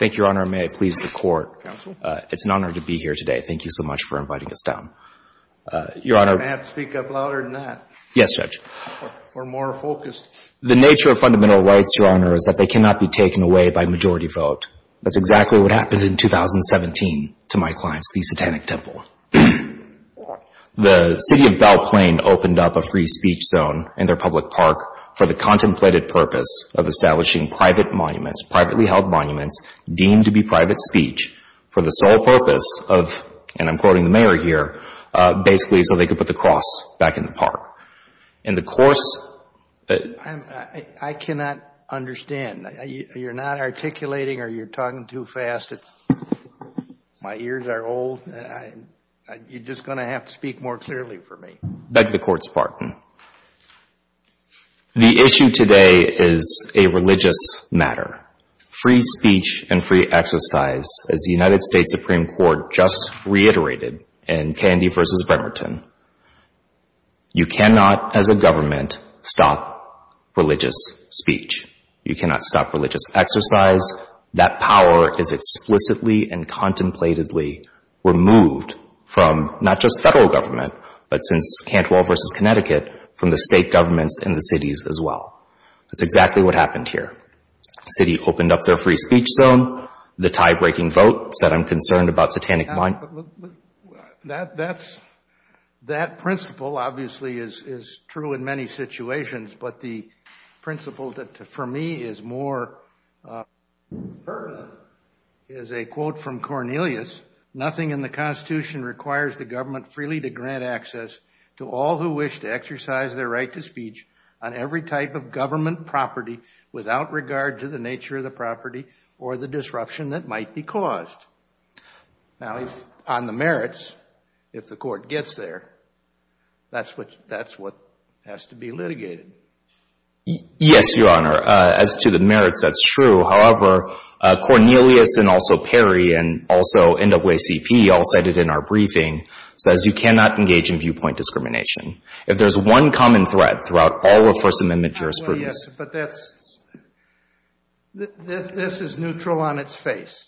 May I please the court? It's an honor to be here today. Thank you so much for inviting us down. The nature of fundamental rights, Your Honor, is that they cannot be taken away by majority vote. That's exactly what happened in 2017 to my clients, the Satanic Temple. The City of Belle Plaine opened up a free speech zone in their public park for the contemplated purpose of establishing private monuments, privately held monuments deemed to be private speech for the sole purpose of, and I'm quoting the mayor here, basically so they could put the cross back in the park. In the course... I cannot understand. You're not articulating or you're talking too fast. My ears are old. You're just going to have to speak more clearly for me. Beg the court's pardon. The issue today is a religious matter. Free speech and free exercise, as the United States Supreme Court just reiterated in Candy v. Bremerton, you cannot, as a government, stop religious speech. You cannot stop religious exercise. Because that power is explicitly and contemplatedly removed from not just federal government, but since Cantwell v. Connecticut, from the state governments in the cities as well. That's exactly what happened here. The city opened up their free speech zone. The tie-breaking vote said, I'm concerned about satanic... That principle, obviously, is true in many situations, but the principle that for me is more pertinent is a quote from Cornelius. Nothing in the Constitution requires the government freely to grant access to all who wish to exercise their right to speech on every type of government property without regard to the nature of the property or the disruption that might be caused. Now, on the merits, if the court gets there, that's what has to be litigated. Yes, Your Honor. As to the merits, that's true. However, Cornelius and also Perry and also NAACP, all cited in our briefing, says you cannot engage in viewpoint discrimination. If there's one common thread throughout all of First Amendment jurisprudence... Yes, but that's... This is neutral on its face.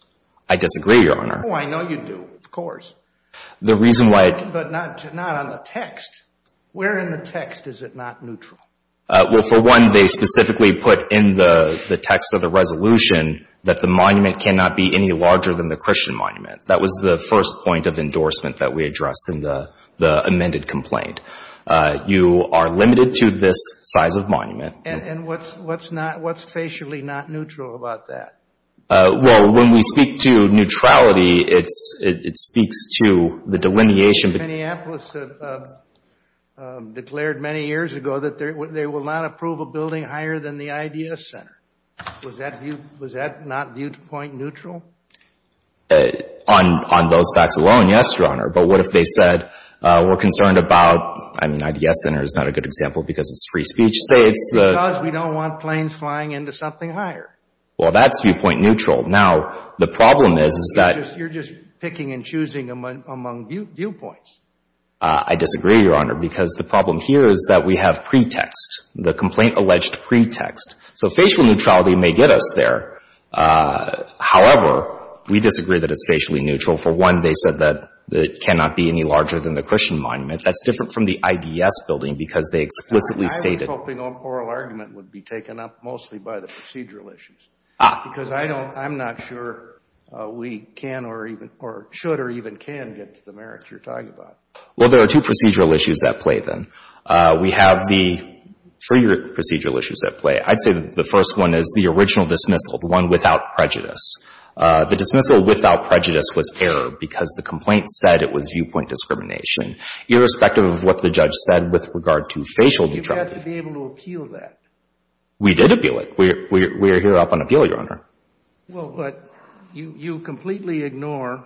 I disagree, Your Honor. Oh, I know you do. Of course. The reason why... But not on the text. Where in the text is it not neutral? Well, for one, they specifically put in the text of the resolution that the monument cannot be any larger than the Christian monument. That was the first point of endorsement that we addressed in the amended complaint. You are limited to this size of monument. And what's facially not neutral about that? Well, when we speak to neutrality, it speaks to the delineation... Minneapolis declared many years ago that they will not approve a building higher than the IDS Center. Was that not viewpoint neutral? On those facts alone, yes, Your Honor. But what if they said we're concerned about... I mean, IDS Center is not a good example because it's free speech. Say it's the... Because we don't want planes flying into something higher. Well, that's viewpoint neutral. Now, the problem is that... You're just picking and choosing among viewpoints. I disagree, Your Honor, because the problem here is that we have pretext, the complaint alleged pretext. So facial neutrality may get us there. However, we disagree that it's facially neutral. For one, they said that it cannot be any larger than the Christian monument. That's different from the IDS building because they explicitly stated... I was hoping an oral argument would be taken up mostly by the procedural issues because I don't... I'm not sure we can or even... or should or even can get to the merits you're talking about. Well, there are two procedural issues at play then. We have the three procedural issues at play. I'd say the first one is the original dismissal, the one without prejudice. The dismissal without prejudice was error because the complaint said it was viewpoint discrimination irrespective of what the judge said with regard to facial neutrality. You have to be able to appeal that. We did appeal it. We're here up on appeal, Your Honor. Well, but you completely ignore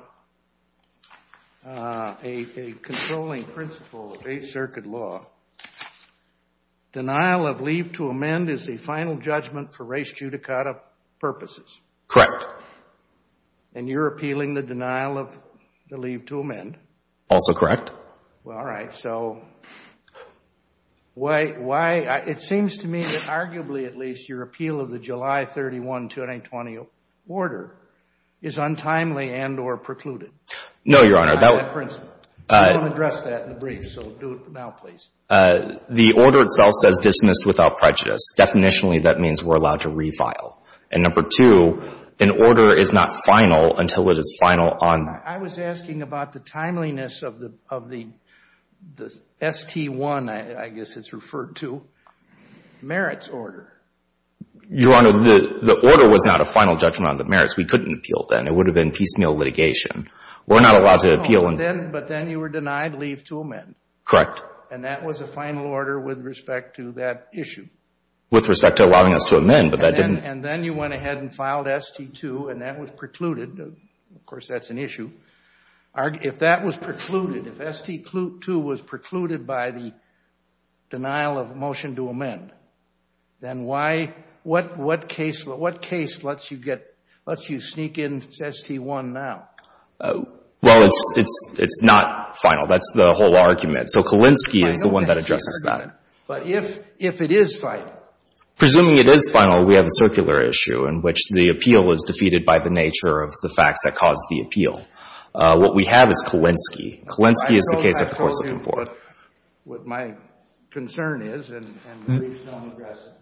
a controlling principle of Eighth Circuit law. Denial of leave to amend is a final judgment for res judicata purposes. Correct. And you're appealing the denial of the leave to amend. Also correct. Well, all right. So why... It seems to me that arguably at least your appeal of the July 31, 2020 order is untimely and or precluded. No, Your Honor. That's my principle. I don't want to address that in the brief, so do it now, please. The order itself says dismissed without prejudice. Definitionally, that means we're allowed to refile. And number two, an order is not final until it is final on... I was asking about the timeliness of the ST-1, I guess it's referred to, merits order. Your Honor, the order was not a final judgment on the merits. We couldn't appeal then. It would have been piecemeal litigation. We're not allowed to appeal and... But then you were denied leave to amend. Correct. And that was a final order with respect to that issue. With respect to allowing us to amend, but that didn't... If that was precluded, if ST-2 was precluded by the denial of motion to amend, then why... What case lets you sneak in ST-1 now? Well, it's not final. That's the whole argument. So Kalinsky is the one that addresses that. But if it is final... Presuming it is final, we have a circular issue in which the appeal was defeated by the nature of the facts that caused the appeal. What we have is Kalinsky. Kalinsky is the case that the Court's looking for. I told you what my concern is and the reason I'm aggressive.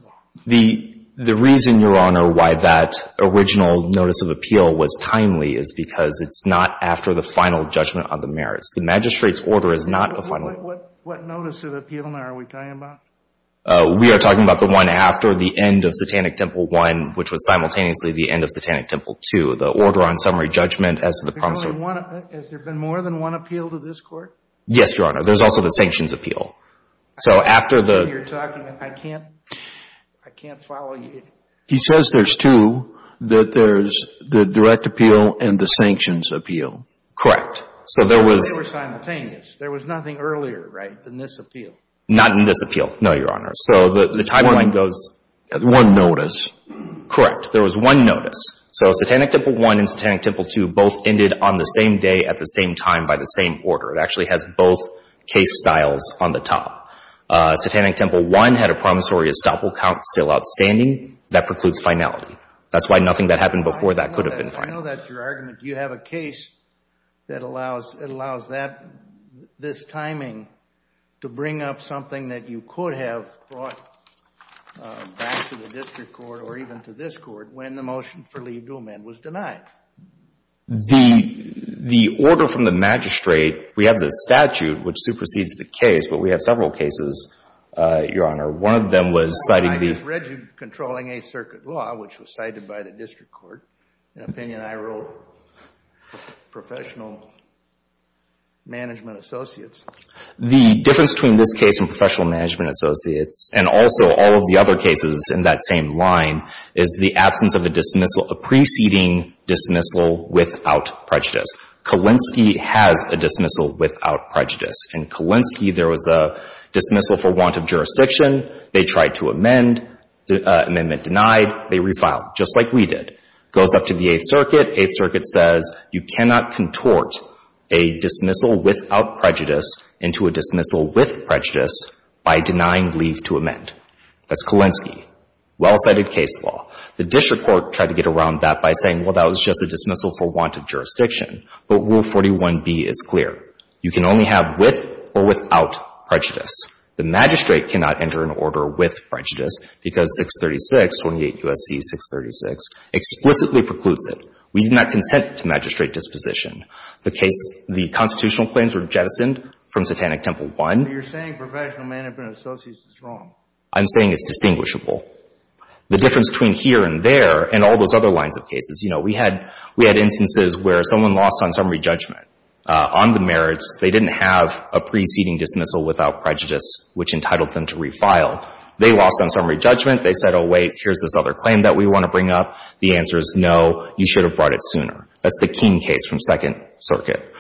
The reason, Your Honor, why that original notice of appeal was timely is because it's not after the final judgment on the merits. The magistrate's order is not a final... What notice of appeal now are we talking about? We are talking about the one after the end of Satanic Temple 1, which was simultaneously the end of Satanic Temple 2, the order on summary judgment as to the promise of... Has there been more than one appeal to this Court? Yes, Your Honor. There's also the sanctions appeal. So after the... I don't know what you're talking about. I can't follow you. He says there's two, that there's the direct appeal and the sanctions appeal. Correct. So there was... They were simultaneous. There was nothing earlier, right, than this appeal. Not in this appeal, no, Your Honor. So the timeline goes... One notice. Correct. There was one notice. So Satanic Temple 1 and Satanic Temple 2 both ended on the same day at the same time by the same order. It actually has both case styles on the top. Satanic Temple 1 had a promissory estoppel count still outstanding. That precludes finality. That's why nothing that happened before that could have been final. I know that's your argument. You have a case that allows that, this timing to bring up something that you could have brought back to the district court or even to this court when the motion for leave to amend was denied. The order from the magistrate, we have the statute which supersedes the case, but we have several cases, Your Honor. One of them was citing the... I just read you controlling a circuit law, which was cited by the district court, an opinion I wrote, professional management associates. The difference between this case and professional management associates, and also all of the other cases in that same line, is the absence of a dismissal, a preceding dismissal without prejudice. Kalinske has a dismissal without prejudice. In Kalinske, there was a dismissal for want of jurisdiction. They tried to amend. Amendment denied. They refiled, just like we did. Goes up to the Eighth Circuit. Eighth Circuit says, you cannot contort a dismissal without prejudice into a dismissal with prejudice by denying leave to amend. That's Kalinske. Well-cited case law. The district court tried to get around that by saying, well, that was just a dismissal for want of jurisdiction. But Rule 41b is clear. You can only have with or without prejudice. The magistrate cannot enter an order with prejudice because 636, 28 U.S.C. 636, explicitly precludes it. We do not consent to magistrate disposition. The constitutional claims were jettisoned from Satanic Temple 1. But you're saying professional management associates is wrong. I'm saying it's distinguishable. The difference between here and there and all those other lines of cases, you know, we had instances where someone lost on summary judgment on the merits. They didn't have a preceding dismissal without prejudice, which entitled them to refile. They lost on summary judgment. They said, oh, wait, here's this other claim that we want to bring up. The answer is no. You should have brought it sooner. That's the King case from Second Circuit.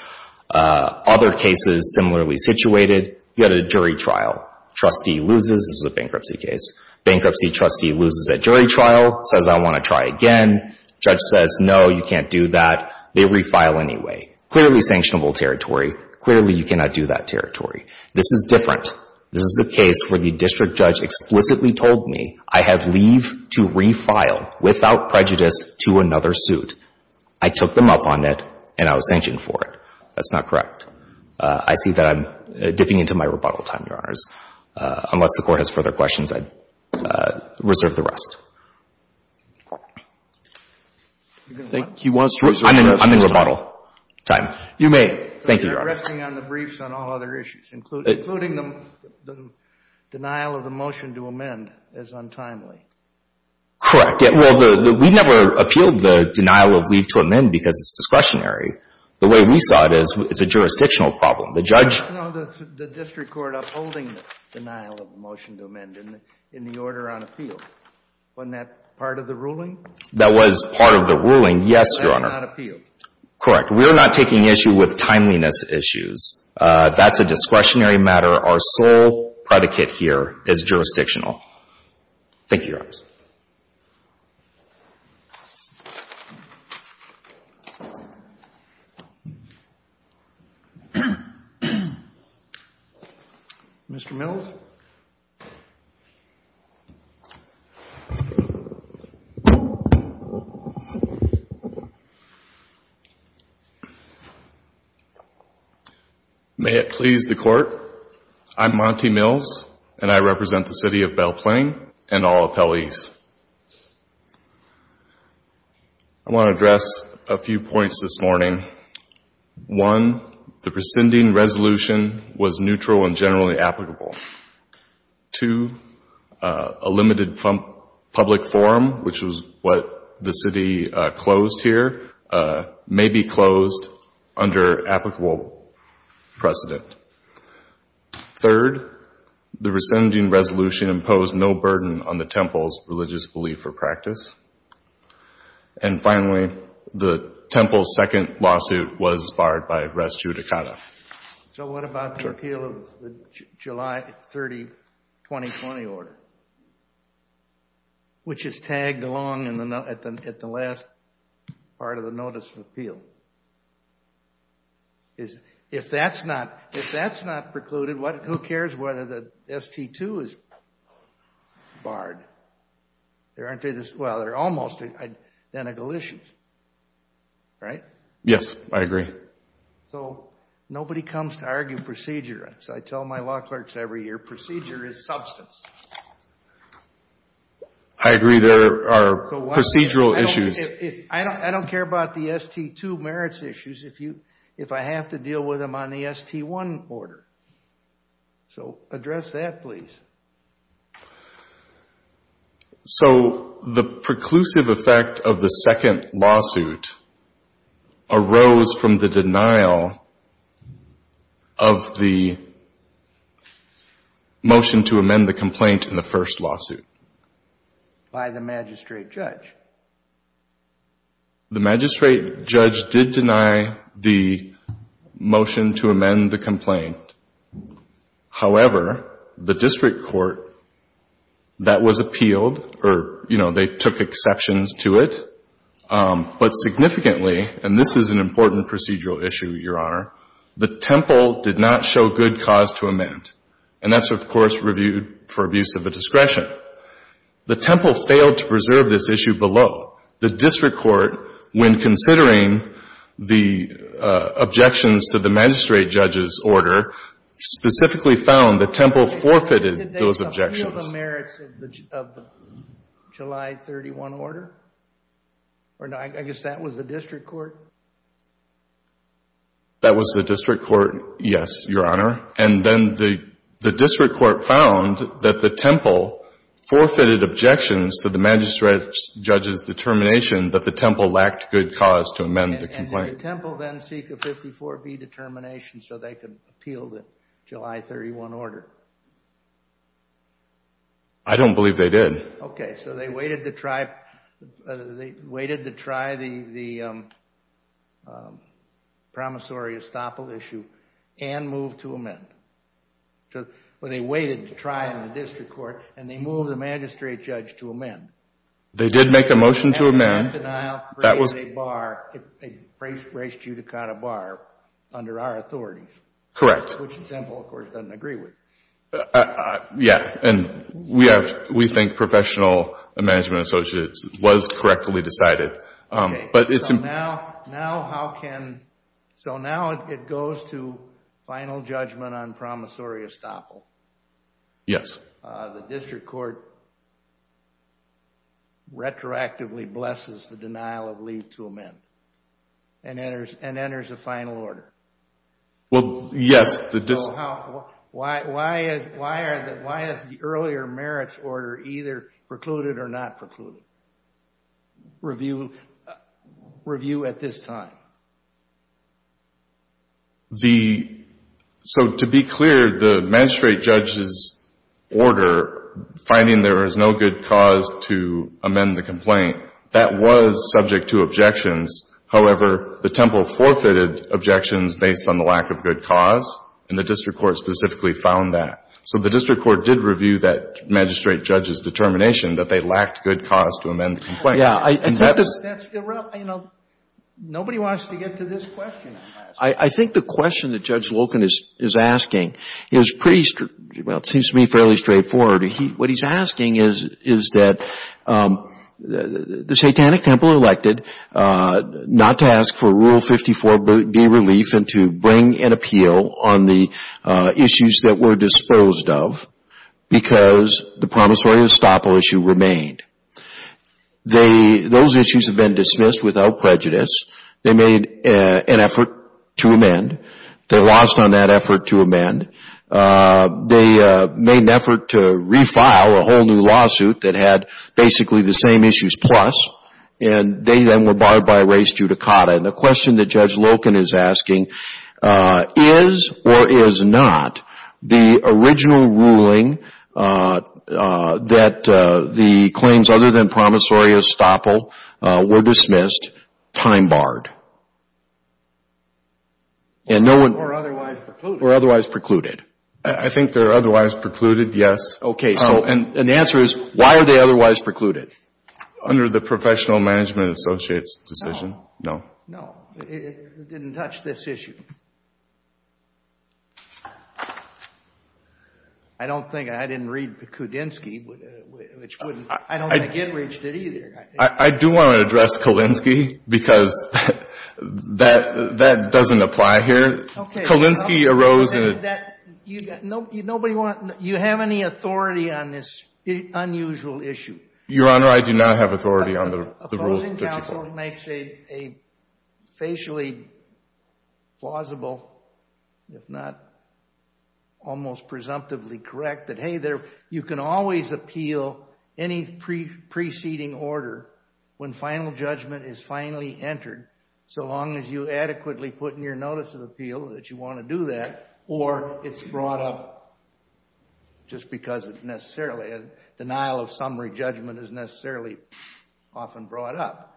Other cases similarly situated, you had a jury trial. Trustee loses. This is a bankruptcy case. Bankruptcy trustee loses at jury trial, says, I want to try again. Judge says, no, you can't do that. They refile anyway. Clearly sanctionable territory. Clearly you cannot do that territory. This is different. This is a case where the district judge explicitly told me I have leave to refile without prejudice to another suit. I took them up on it, and I was sanctioned for it. That's not correct. I see that I'm dipping into my rebuttal time, Your Honors. Unless the Court has further questions, I reserve the rest. I'm in rebuttal time. You may. Thank you, Your Honor. So you're resting on the briefs on all other issues, including the denial of the motion to amend as untimely? Correct. Well, we never appealed the denial of leave to amend because it's discretionary. The way we saw it is it's a jurisdictional problem. No, the district court upholding the denial of the motion to amend in the order on appeal. Wasn't that part of the ruling? That was part of the ruling, yes, Your Honor. That was not appealed. Correct. We're not taking issue with timeliness issues. That's a discretionary matter. Our sole predicate here is jurisdictional. Thank you, Your Honors. Mr. Mills? May it please the Court, I'm Monty Mills, and I represent the City of Belle Plaine and all appellees. I want to address a few points this morning. One, the prescinding resolution was two, a limited public forum, which was what the City closed here, may be closed under applicable precedent. Third, the prescinding resolution imposed no burden on the temple's religious belief or practice. And finally, the temple's second lawsuit was barred by res judicata. So what about the appeal of the July 30, 2020 order, which is tagged along at the last part of the notice of appeal? If that's not precluded, who cares whether the ST-2 is barred? Well, they're almost identical issues, right? Yes, I agree. So nobody comes to argue procedure. As I tell my law clerks every year, procedure is substance. I agree there are procedural issues. I don't care about the ST-2 merits issues if I have to deal with them on the ST-1 order. So address that, please. Thank you. So the preclusive effect of the second lawsuit arose from the denial of the motion to amend the complaint in the first lawsuit. By the magistrate judge. The magistrate judge did deny the motion to amend the complaint. However, the district court, that was appealed, or, you know, they took exceptions to it. But significantly, and this is an important procedural issue, Your Honor, the temple did not show good cause to amend. And that's, of course, reviewed for abuse of a discretion. The temple failed to preserve this issue below. The district court, when considering the objections to the magistrate judge's order, specifically found the temple forfeited those objections. Did they appeal the merits of the July 31 order? Or no, I guess that was the district court. That was the district court, yes, Your Honor. And then the district court found that the temple forfeited objections to the magistrate judge's determination that the temple lacked good cause to amend the complaint. Did the temple then seek a 54B determination so they could appeal the July 31 order? I don't believe they did. Okay, so they waited to try the promissory estoppel issue and moved to amend. Well, they waited to try in the district court and they moved the magistrate judge to amend. They did make a motion to amend. That was a bar, a grace judicata bar under our authorities. Correct. Which the temple, of course, doesn't agree with. Yeah, and we think professional management associates was correctly decided. But it's important. Now how can, so now it goes to final judgment on promissory estoppel. Yes. The district court retroactively blesses the denial of leave to amend and enters a final order. Well, yes. Why is the earlier merits order either precluded or not precluded? Review at this time. The, so to be clear, the magistrate judge's order, finding there is no good cause to amend the complaint, that was subject to objections. However, the temple forfeited objections based on the lack of good cause, and the district court specifically found that. So the district court did review that magistrate judge's determination that they lacked good cause to amend the complaint. Yeah, and that's. You know, nobody wants to get to this question. I think the question that Judge Loken is asking is pretty, well, it seems to me fairly straightforward. What he's asking is that the satanic temple elected not to ask for Rule 54B relief and to bring an appeal on the issues that were disposed of because the promissory estoppel issue remained. They, those issues have been dismissed without prejudice. They made an effort to amend. They lost on that effort to amend. They made an effort to refile a whole new lawsuit that had basically the same issues plus, and they then were barred by race judicata. And the question that Judge Loken is asking is or is not the original ruling that the claims other than promissory estoppel were dismissed, time-barred, and no one. Or otherwise precluded. Or otherwise precluded. I think they're otherwise precluded, yes. Okay, so. And the answer is why are they otherwise precluded? Under the Professional Management Associates decision. No. No, it didn't touch this issue. I don't think, I didn't read the Kudinski, which wouldn't. I don't think it reached it either. I do want to address Kulinski because that doesn't apply here. Kulinski arose in a. Nobody wants, you have any authority on this unusual issue? Your Honor, I do not have authority on the rule. Opposing counsel makes a facially plausible, if not almost presumptively correct that, you can always appeal any preceding order when final judgment is finally entered. So long as you adequately put in your notice of appeal that you want to do that. Or it's brought up just because it's necessarily a denial of summary judgment is necessarily often brought up.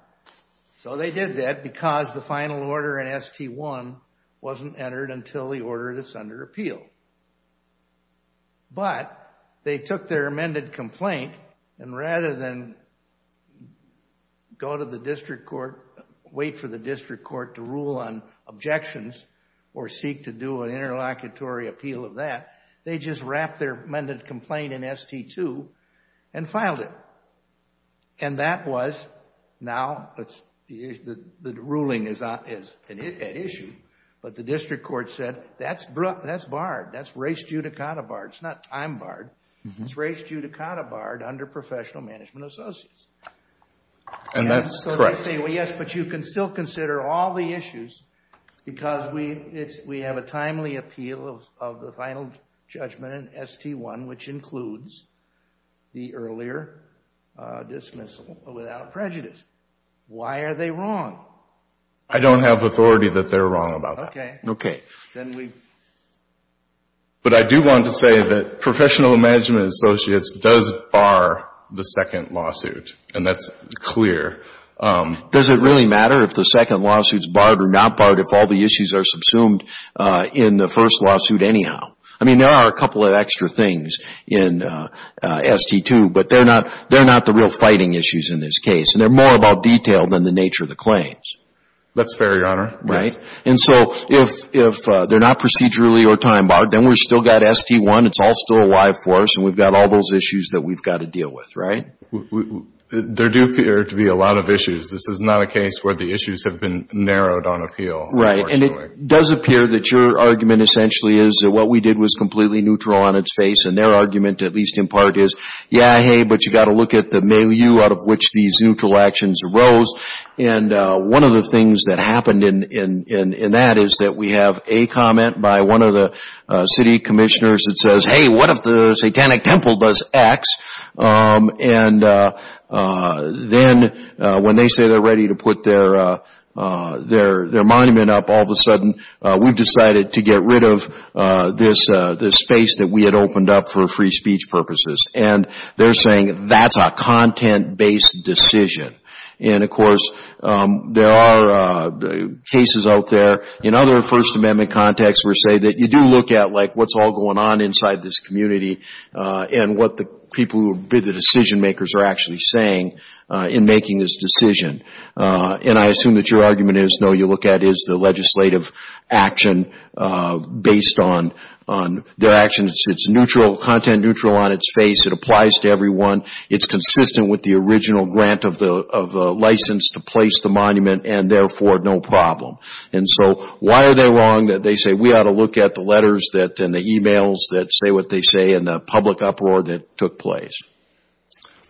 So they did that because the final order in ST1 wasn't entered until the order that's under appeal. But they took their amended complaint and rather than go to the district court, wait for the district court to rule on objections or seek to do an interlocutory appeal of that, they just wrapped their amended complaint in ST2 and filed it. And that was now, the ruling is at issue, but the district court said, that's barring. That's res judicata barred. It's not time barred. It's res judicata barred under professional management associates. And that's correct. Yes, but you can still consider all the issues because we have a timely appeal of the final judgment in ST1, which includes the earlier dismissal without prejudice. Why are they wrong? I don't have authority that they're wrong about that. Okay. Okay. Then we... But I do want to say that professional management associates does bar the second lawsuit, and that's clear. Does it really matter if the second lawsuit is barred or not barred if all the issues are subsumed in the first lawsuit anyhow? I mean, there are a couple of extra things in ST2, but they're not the real fighting issues in this case. And they're more about detail than the nature of the claims. That's fair, Your Honor. Right. And so if they're not procedurally or time barred, then we've still got ST1. It's all still alive for us, and we've got all those issues that we've got to deal with, right? There do appear to be a lot of issues. This is not a case where the issues have been narrowed on appeal. Right. And it does appear that your argument essentially is that what we did was completely neutral on its face. And their argument, at least in part, is, yeah, hey, but you've got to look at the milieu out of which these neutral actions arose. And one of the things that happened in that is that we have a comment by one of the city commissioners that says, hey, what if the Satanic Temple does X? And then when they say they're ready to put their monument up, all of a sudden we've decided to get rid of this space that we had opened up for free speech purposes. And they're saying that's a content-based decision. And, of course, there are cases out there in other First Amendment contexts where you do look at what's all going on inside this community and what the decision makers are actually saying in making this decision. And I assume that your argument is, no, you look at is the legislative action based on their actions. It's content-neutral on its face. It applies to everyone. It's consistent with the original grant of the license to place the monument and, therefore, no problem. And so why are they wrong that they say we ought to look at the letters and the emails that say what they say and the public uproar that took place?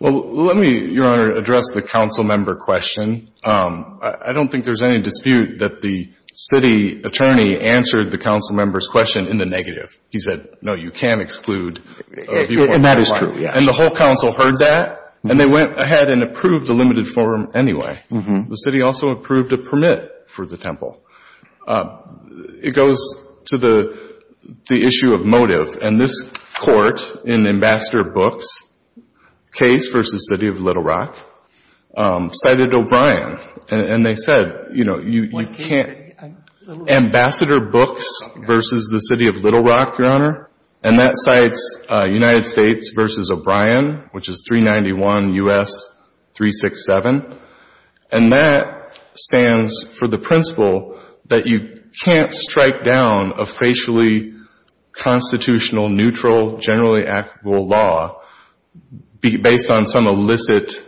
MR. BROWNLEE Well, let me, Your Honor, address the councilmember question. I don't think there's any dispute that the city attorney answered the councilmember's question in the negative. He said, no, you can't exclude. MR. And they went ahead and approved the limited form anyway. The city also approved a permit for the temple. It goes to the issue of motive. And this court in Ambassador Books' case versus the city of Little Rock cited O'Brien. And they said, you know, you can't – Ambassador Books versus the city of Little Rock, Your Honor, is 391 U.S. 367. And that stands for the principle that you can't strike down a racially constitutional, neutral, generally actable law based on some illicit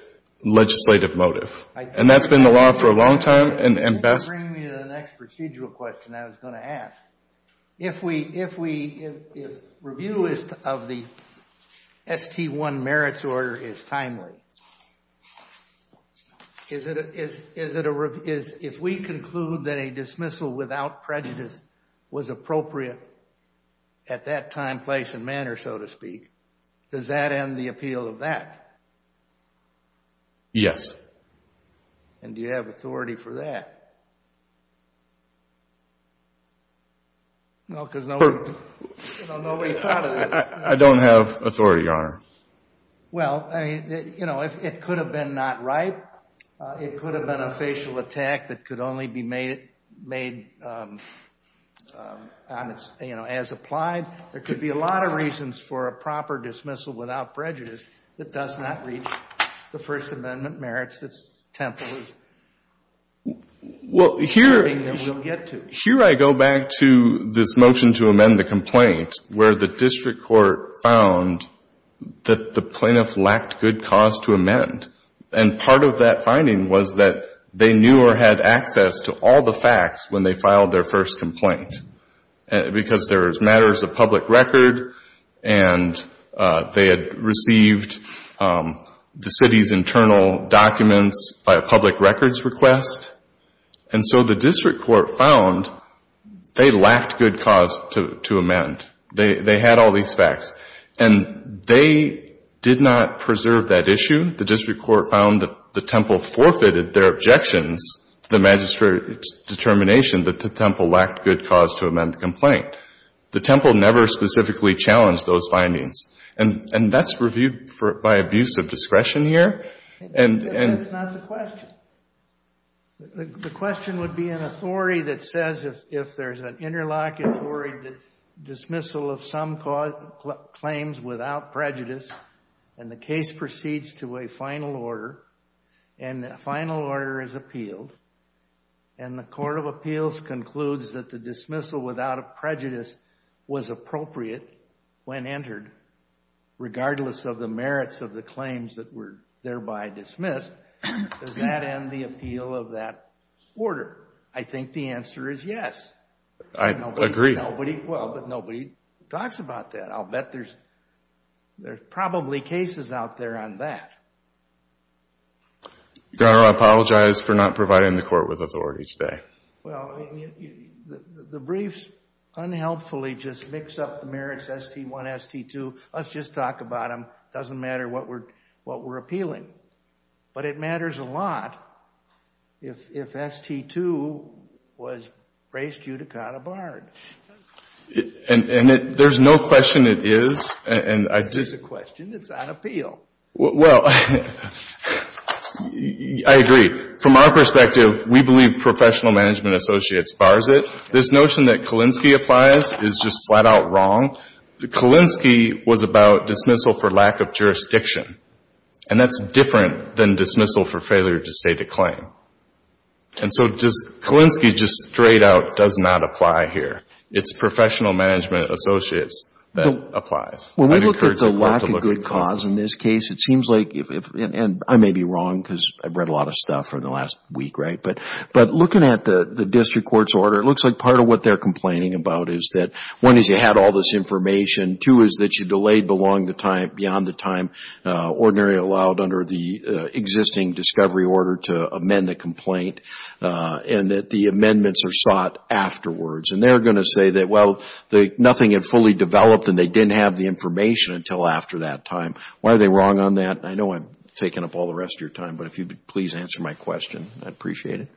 legislative motive. And that's been the law for a long time. And Ambassador – MR. BROWNLEE Is it a – if we conclude that a dismissal without prejudice was appropriate at that time, place, and manner, so to speak, does that end the appeal of that? MR. BROWNLEE Yes. MR. BROWNLEE And do you have authority for that? Well, because nobody thought of this. MR. BROWNLEE I don't have authority, Your Honor. MR. BROWNLEE You know, it could have been not right. It could have been a facial attack that could only be made on its – you know, as applied. There could be a lot of reasons for a proper dismissal without prejudice that does not reach the First Amendment merits. It's temporary. MR. BROWNLEE Well, here – BROWNLEE That we'll get to. MR. BROWNLEE Here I go back to this motion to amend the complaint where the district court found that the plaintiff lacked good cause to amend. And part of that finding was that they knew or had access to all the facts when they filed their first complaint because there was matters of public record and they had received the city's internal documents by a public records request. And so the district court found they lacked good cause to amend. They had all these facts. And they did not preserve that issue. The district court found that the temple forfeited their objections to the magistrate's determination that the temple lacked good cause to amend the complaint. The temple never specifically challenged those findings. And that's reviewed for – by abuse of discretion here. And – JUSTICE KENNEDY That's not the question. The question would be an authority that says if there's an interlocutory dismissal of some claims without prejudice and the case proceeds to a final order and the final order is appealed and the court of appeals concludes that the dismissal without a prejudice was appropriate when entered regardless of the merits of the claims that were thereby dismissed, does that end the appeal of that order? I think the answer is yes. MR. BROWNLEE I agree. Well, but nobody talks about that. I'll bet there's – there's probably cases out there on that. JUSTICE KENNEDY Your Honor, I apologize for not providing the court with authority today. MR. BROWNLEE Well, the briefs unhelpfully just mix up the merits, ST1, ST2. Let's just talk about them. It doesn't matter what we're appealing. But it matters a lot if ST2 was raised due to Cotabard. And there's no question it is. JUSTICE SCALIA This is a question that's on appeal. MR. BROWNLEE Well, I agree. From our perspective, we believe professional management associates bars it. This notion that Kalinsky applies is just flat out wrong. Kalinsky was about dismissal for lack of jurisdiction, and that's different than dismissal for failure to state a claim. And so Kalinsky just straight out does not apply here. It's professional management associates that applies. JUSTICE SCALIA When we look at the lack of good cause in this case, it seems like – and I may be wrong because I've read a lot of stuff from the last week, right? But looking at the district court's order, it looks like part of what they're complaining about is that, one, is you had all this information. Two, is that you delayed beyond the time ordinarily allowed under the existing discovery order to amend the complaint, and that the amendments are sought afterwards. And they're going to say that, well, nothing had fully developed and they didn't have the information until after that time. Why are they wrong on that? I know I'm taking up all the rest of your time, but if you could please answer my question, I'd appreciate it.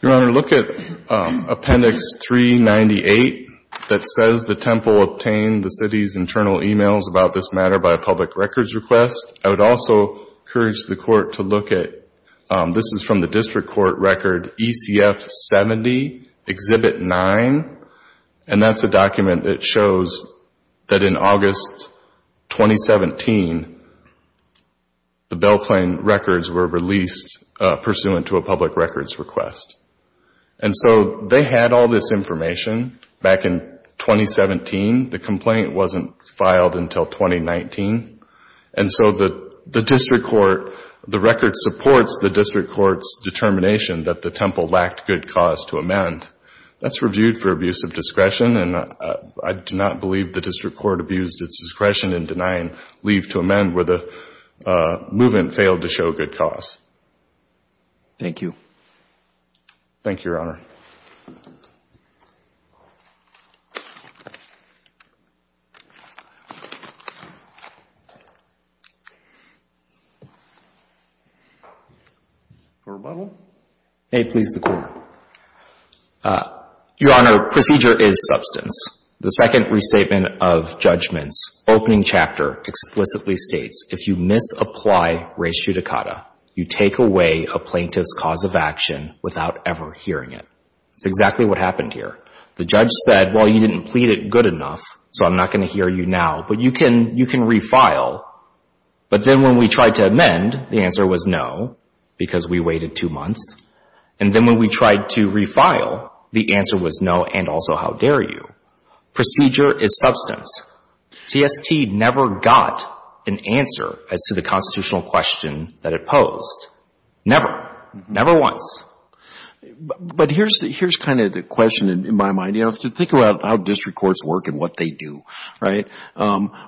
MR. BROWNLEE Your Honor, look at Appendix 398 that says the temple obtained the city's internal emails about this matter by a public records request. I would also encourage the court to look at – this is from the district court record ECF-70, Exhibit 9. And that's a document that shows that in August 2017, the Belle Plaine records were released pursuant to a public records request. And so they had all this information back in 2017. The complaint wasn't filed until 2019. And so the district court – the record supports the district court's determination that the temple lacked good cause to amend. That's reviewed for abuse of discretion. And I do not believe the district court abused its discretion in denying leave to amend where the movement failed to show good cause. GARGANO Thank you. MR. BROWNLEE Thank you, Your Honor. MR. BROWNLEE Your Honor, procedure is substance. The second restatement of judgments, opening chapter, explicitly states if you misapply res judicata, you take away a plaintiff's cause of action without ever hearing it. It's exactly what happened here. The judge said, well, you didn't plead it good enough, so I'm not going to hear you now. But you can – you can refile. But then when we tried to amend, the answer was no because we waited two months. And then when we tried to refile, the answer was no and also how dare you. Procedure is substance. TST never got an answer as to the constitutional question that it posed. Never once. GENERAL VERRILLI But here's – here's kind of the question in my mind. You have to think about how district courts work and what they do, right?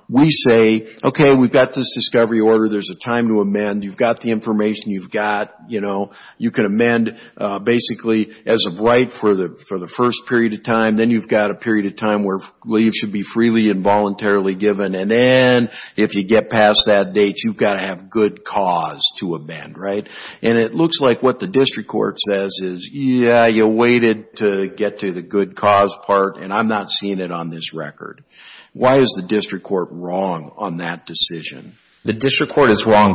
We say, okay, we've got this discovery order. There's a time to amend. You've got the information you've got. You know, you can amend basically as of right for the – for the first period of time. Then you've got a period of time where leave should be freely and voluntarily given. And then if you get past that date, you've got to have good cause to amend, right? And it looks like what the district court says is, yeah, you waited to get to the good cause part, and I'm not seeing it on this record. Why is the district court wrong on that decision? MR. VERRILLI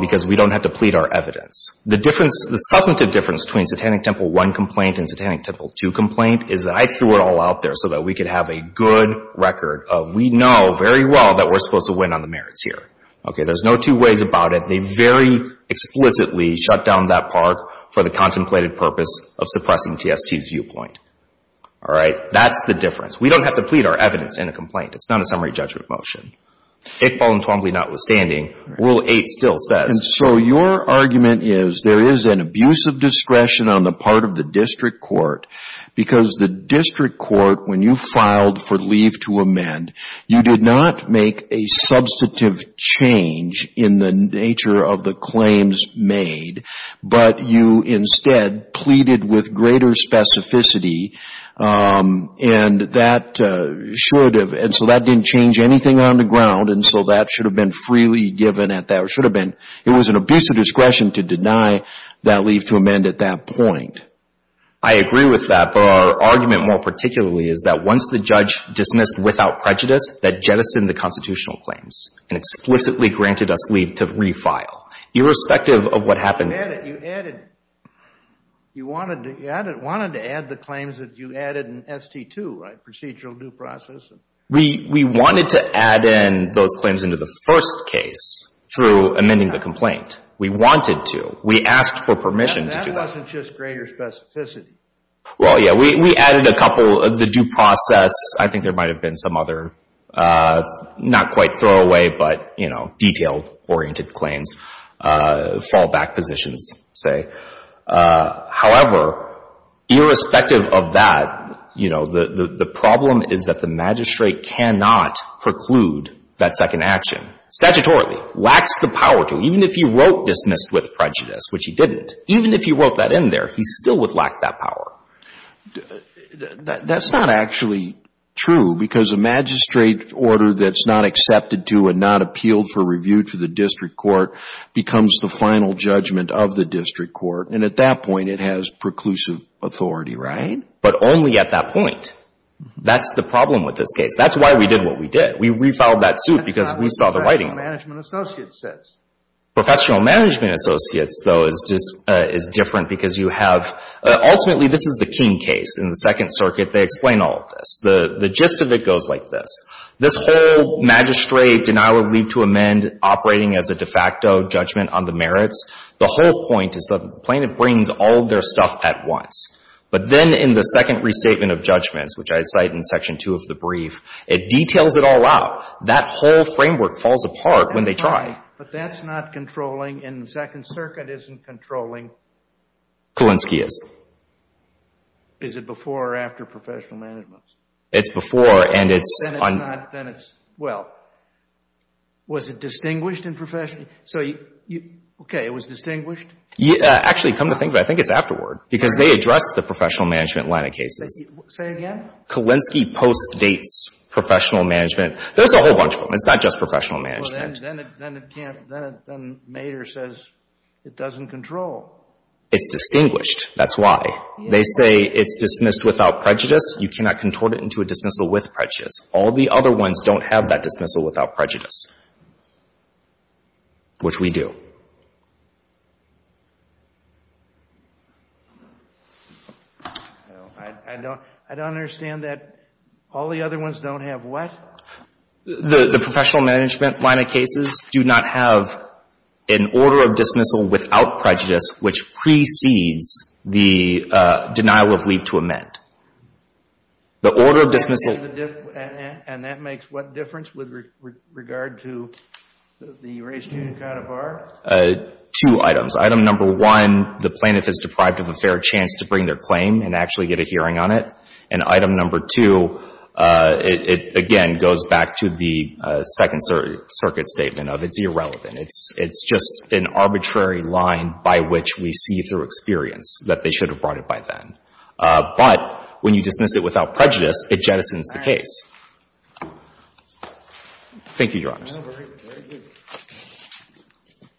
The substantive difference between Satanic Temple 1 complaint and Satanic Temple 2 complaint is that I threw it all out there so that we could have a good record of we know very well that we're supposed to win on the merits here. Okay? There's no two ways about it. They very explicitly shut down that part for the contemplated purpose of suppressing TST's viewpoint. All right? That's the difference. We don't have to plead our evidence in a complaint. It's not a summary judgment motion. It voluntarily notwithstanding, Rule 8 still says. And so your argument is there is an abuse of discretion on the part of the district court because the district court, when you filed for leave to amend, you did not make a substantive change in the nature of the claims made, but you instead pleaded with greater specificity, and that should have, and so that didn't change anything on the It was an abuse of discretion to deny that leave to amend at that point. I agree with that, but our argument more particularly is that once the judge dismissed without prejudice, that jettisoned the constitutional claims and explicitly granted us leave to refile, irrespective of what happened. JUSTICE SCALIA You added, you wanted to add the claims that you added in ST2, right? Procedural due process. We wanted to add in those claims into the first case through amending the complaint. We wanted to. We asked for permission to do that. JUSTICE SCALIA And that wasn't just greater specificity. MR. GOLDSMITH Well, yeah. We added a couple of the due process. I think there might have been some other, not quite throwaway, but, you know, detailed oriented claims, fallback positions, say. However, irrespective of that, you know, the problem is that the magistrate cannot preclude that second action, statutorily. Lacks the power to. Even if he wrote dismissed with prejudice, which he didn't, even if he wrote that in there, he still would lack that power. JUSTICE SCALIA That's not actually true, because a magistrate order that's not accepted to and not appealed for review to the district court becomes the final judgment of the district court. And at that point, it has preclusive authority, right? GOLDSMITH But only at that point. That's the problem with this case. That's why we did what we did. We refiled that suit because we saw the writing on it. JUSTICE SCALIA Professional management associates, though, is different because you have, ultimately, this is the King case. In the Second Circuit, they explain all of this. The gist of it goes like this. This whole magistrate denial of leave to amend operating as a de facto judgment on the merits, the whole point is that the plaintiff brings all of their stuff at once. But then in the Second Restatement of Judgments, which I cite in Section 2 of the brief, it details it all out. That whole framework falls apart when they try. JUSTICE SCALIA But that's not controlling. In the Second Circuit, it isn't controlling. GOLDSMITH Kulinski is. JUSTICE SCALIA Is it before or after professional management? GOLDSMITH It's before, and it's on. JUSTICE SCALIA Then it's not. Then it's, well, was it distinguished in professional? So, okay, it was distinguished? GOLDSMITH Actually, come to think of it, I think it's afterward, because they address the professional management line of cases. JUSTICE SCALIA Say again? GOLDSMITH Kulinski postdates professional management. There's a whole bunch of them. It's not just professional management. JUSTICE SCALIA Then it can't, then Mader says it doesn't control. GOLDSMITH It's distinguished. That's why. They say it's dismissed without prejudice. You cannot contort it into a dismissal with prejudice. All the other ones don't have that dismissal without prejudice. Which we do. JUSTICE SCALIA I don't understand that all the other ones don't have what? GOLDSMITH The professional management line of cases do not have an order of dismissal without prejudice, which precedes the denial of leave to amend. The order of dismissal... GENERAL VERRILLI Two items. Item number one, the plaintiff is deprived of a fair chance to bring their claim and actually get a hearing on it. And item number two, it again goes back to the Second Circuit statement of it's irrelevant. It's just an arbitrary line by which we see through experience that they should have brought it by then. But when you dismiss it without prejudice, it jettisons the case. Thank you, Your Honors. JUSTICE SCALIA Thank you.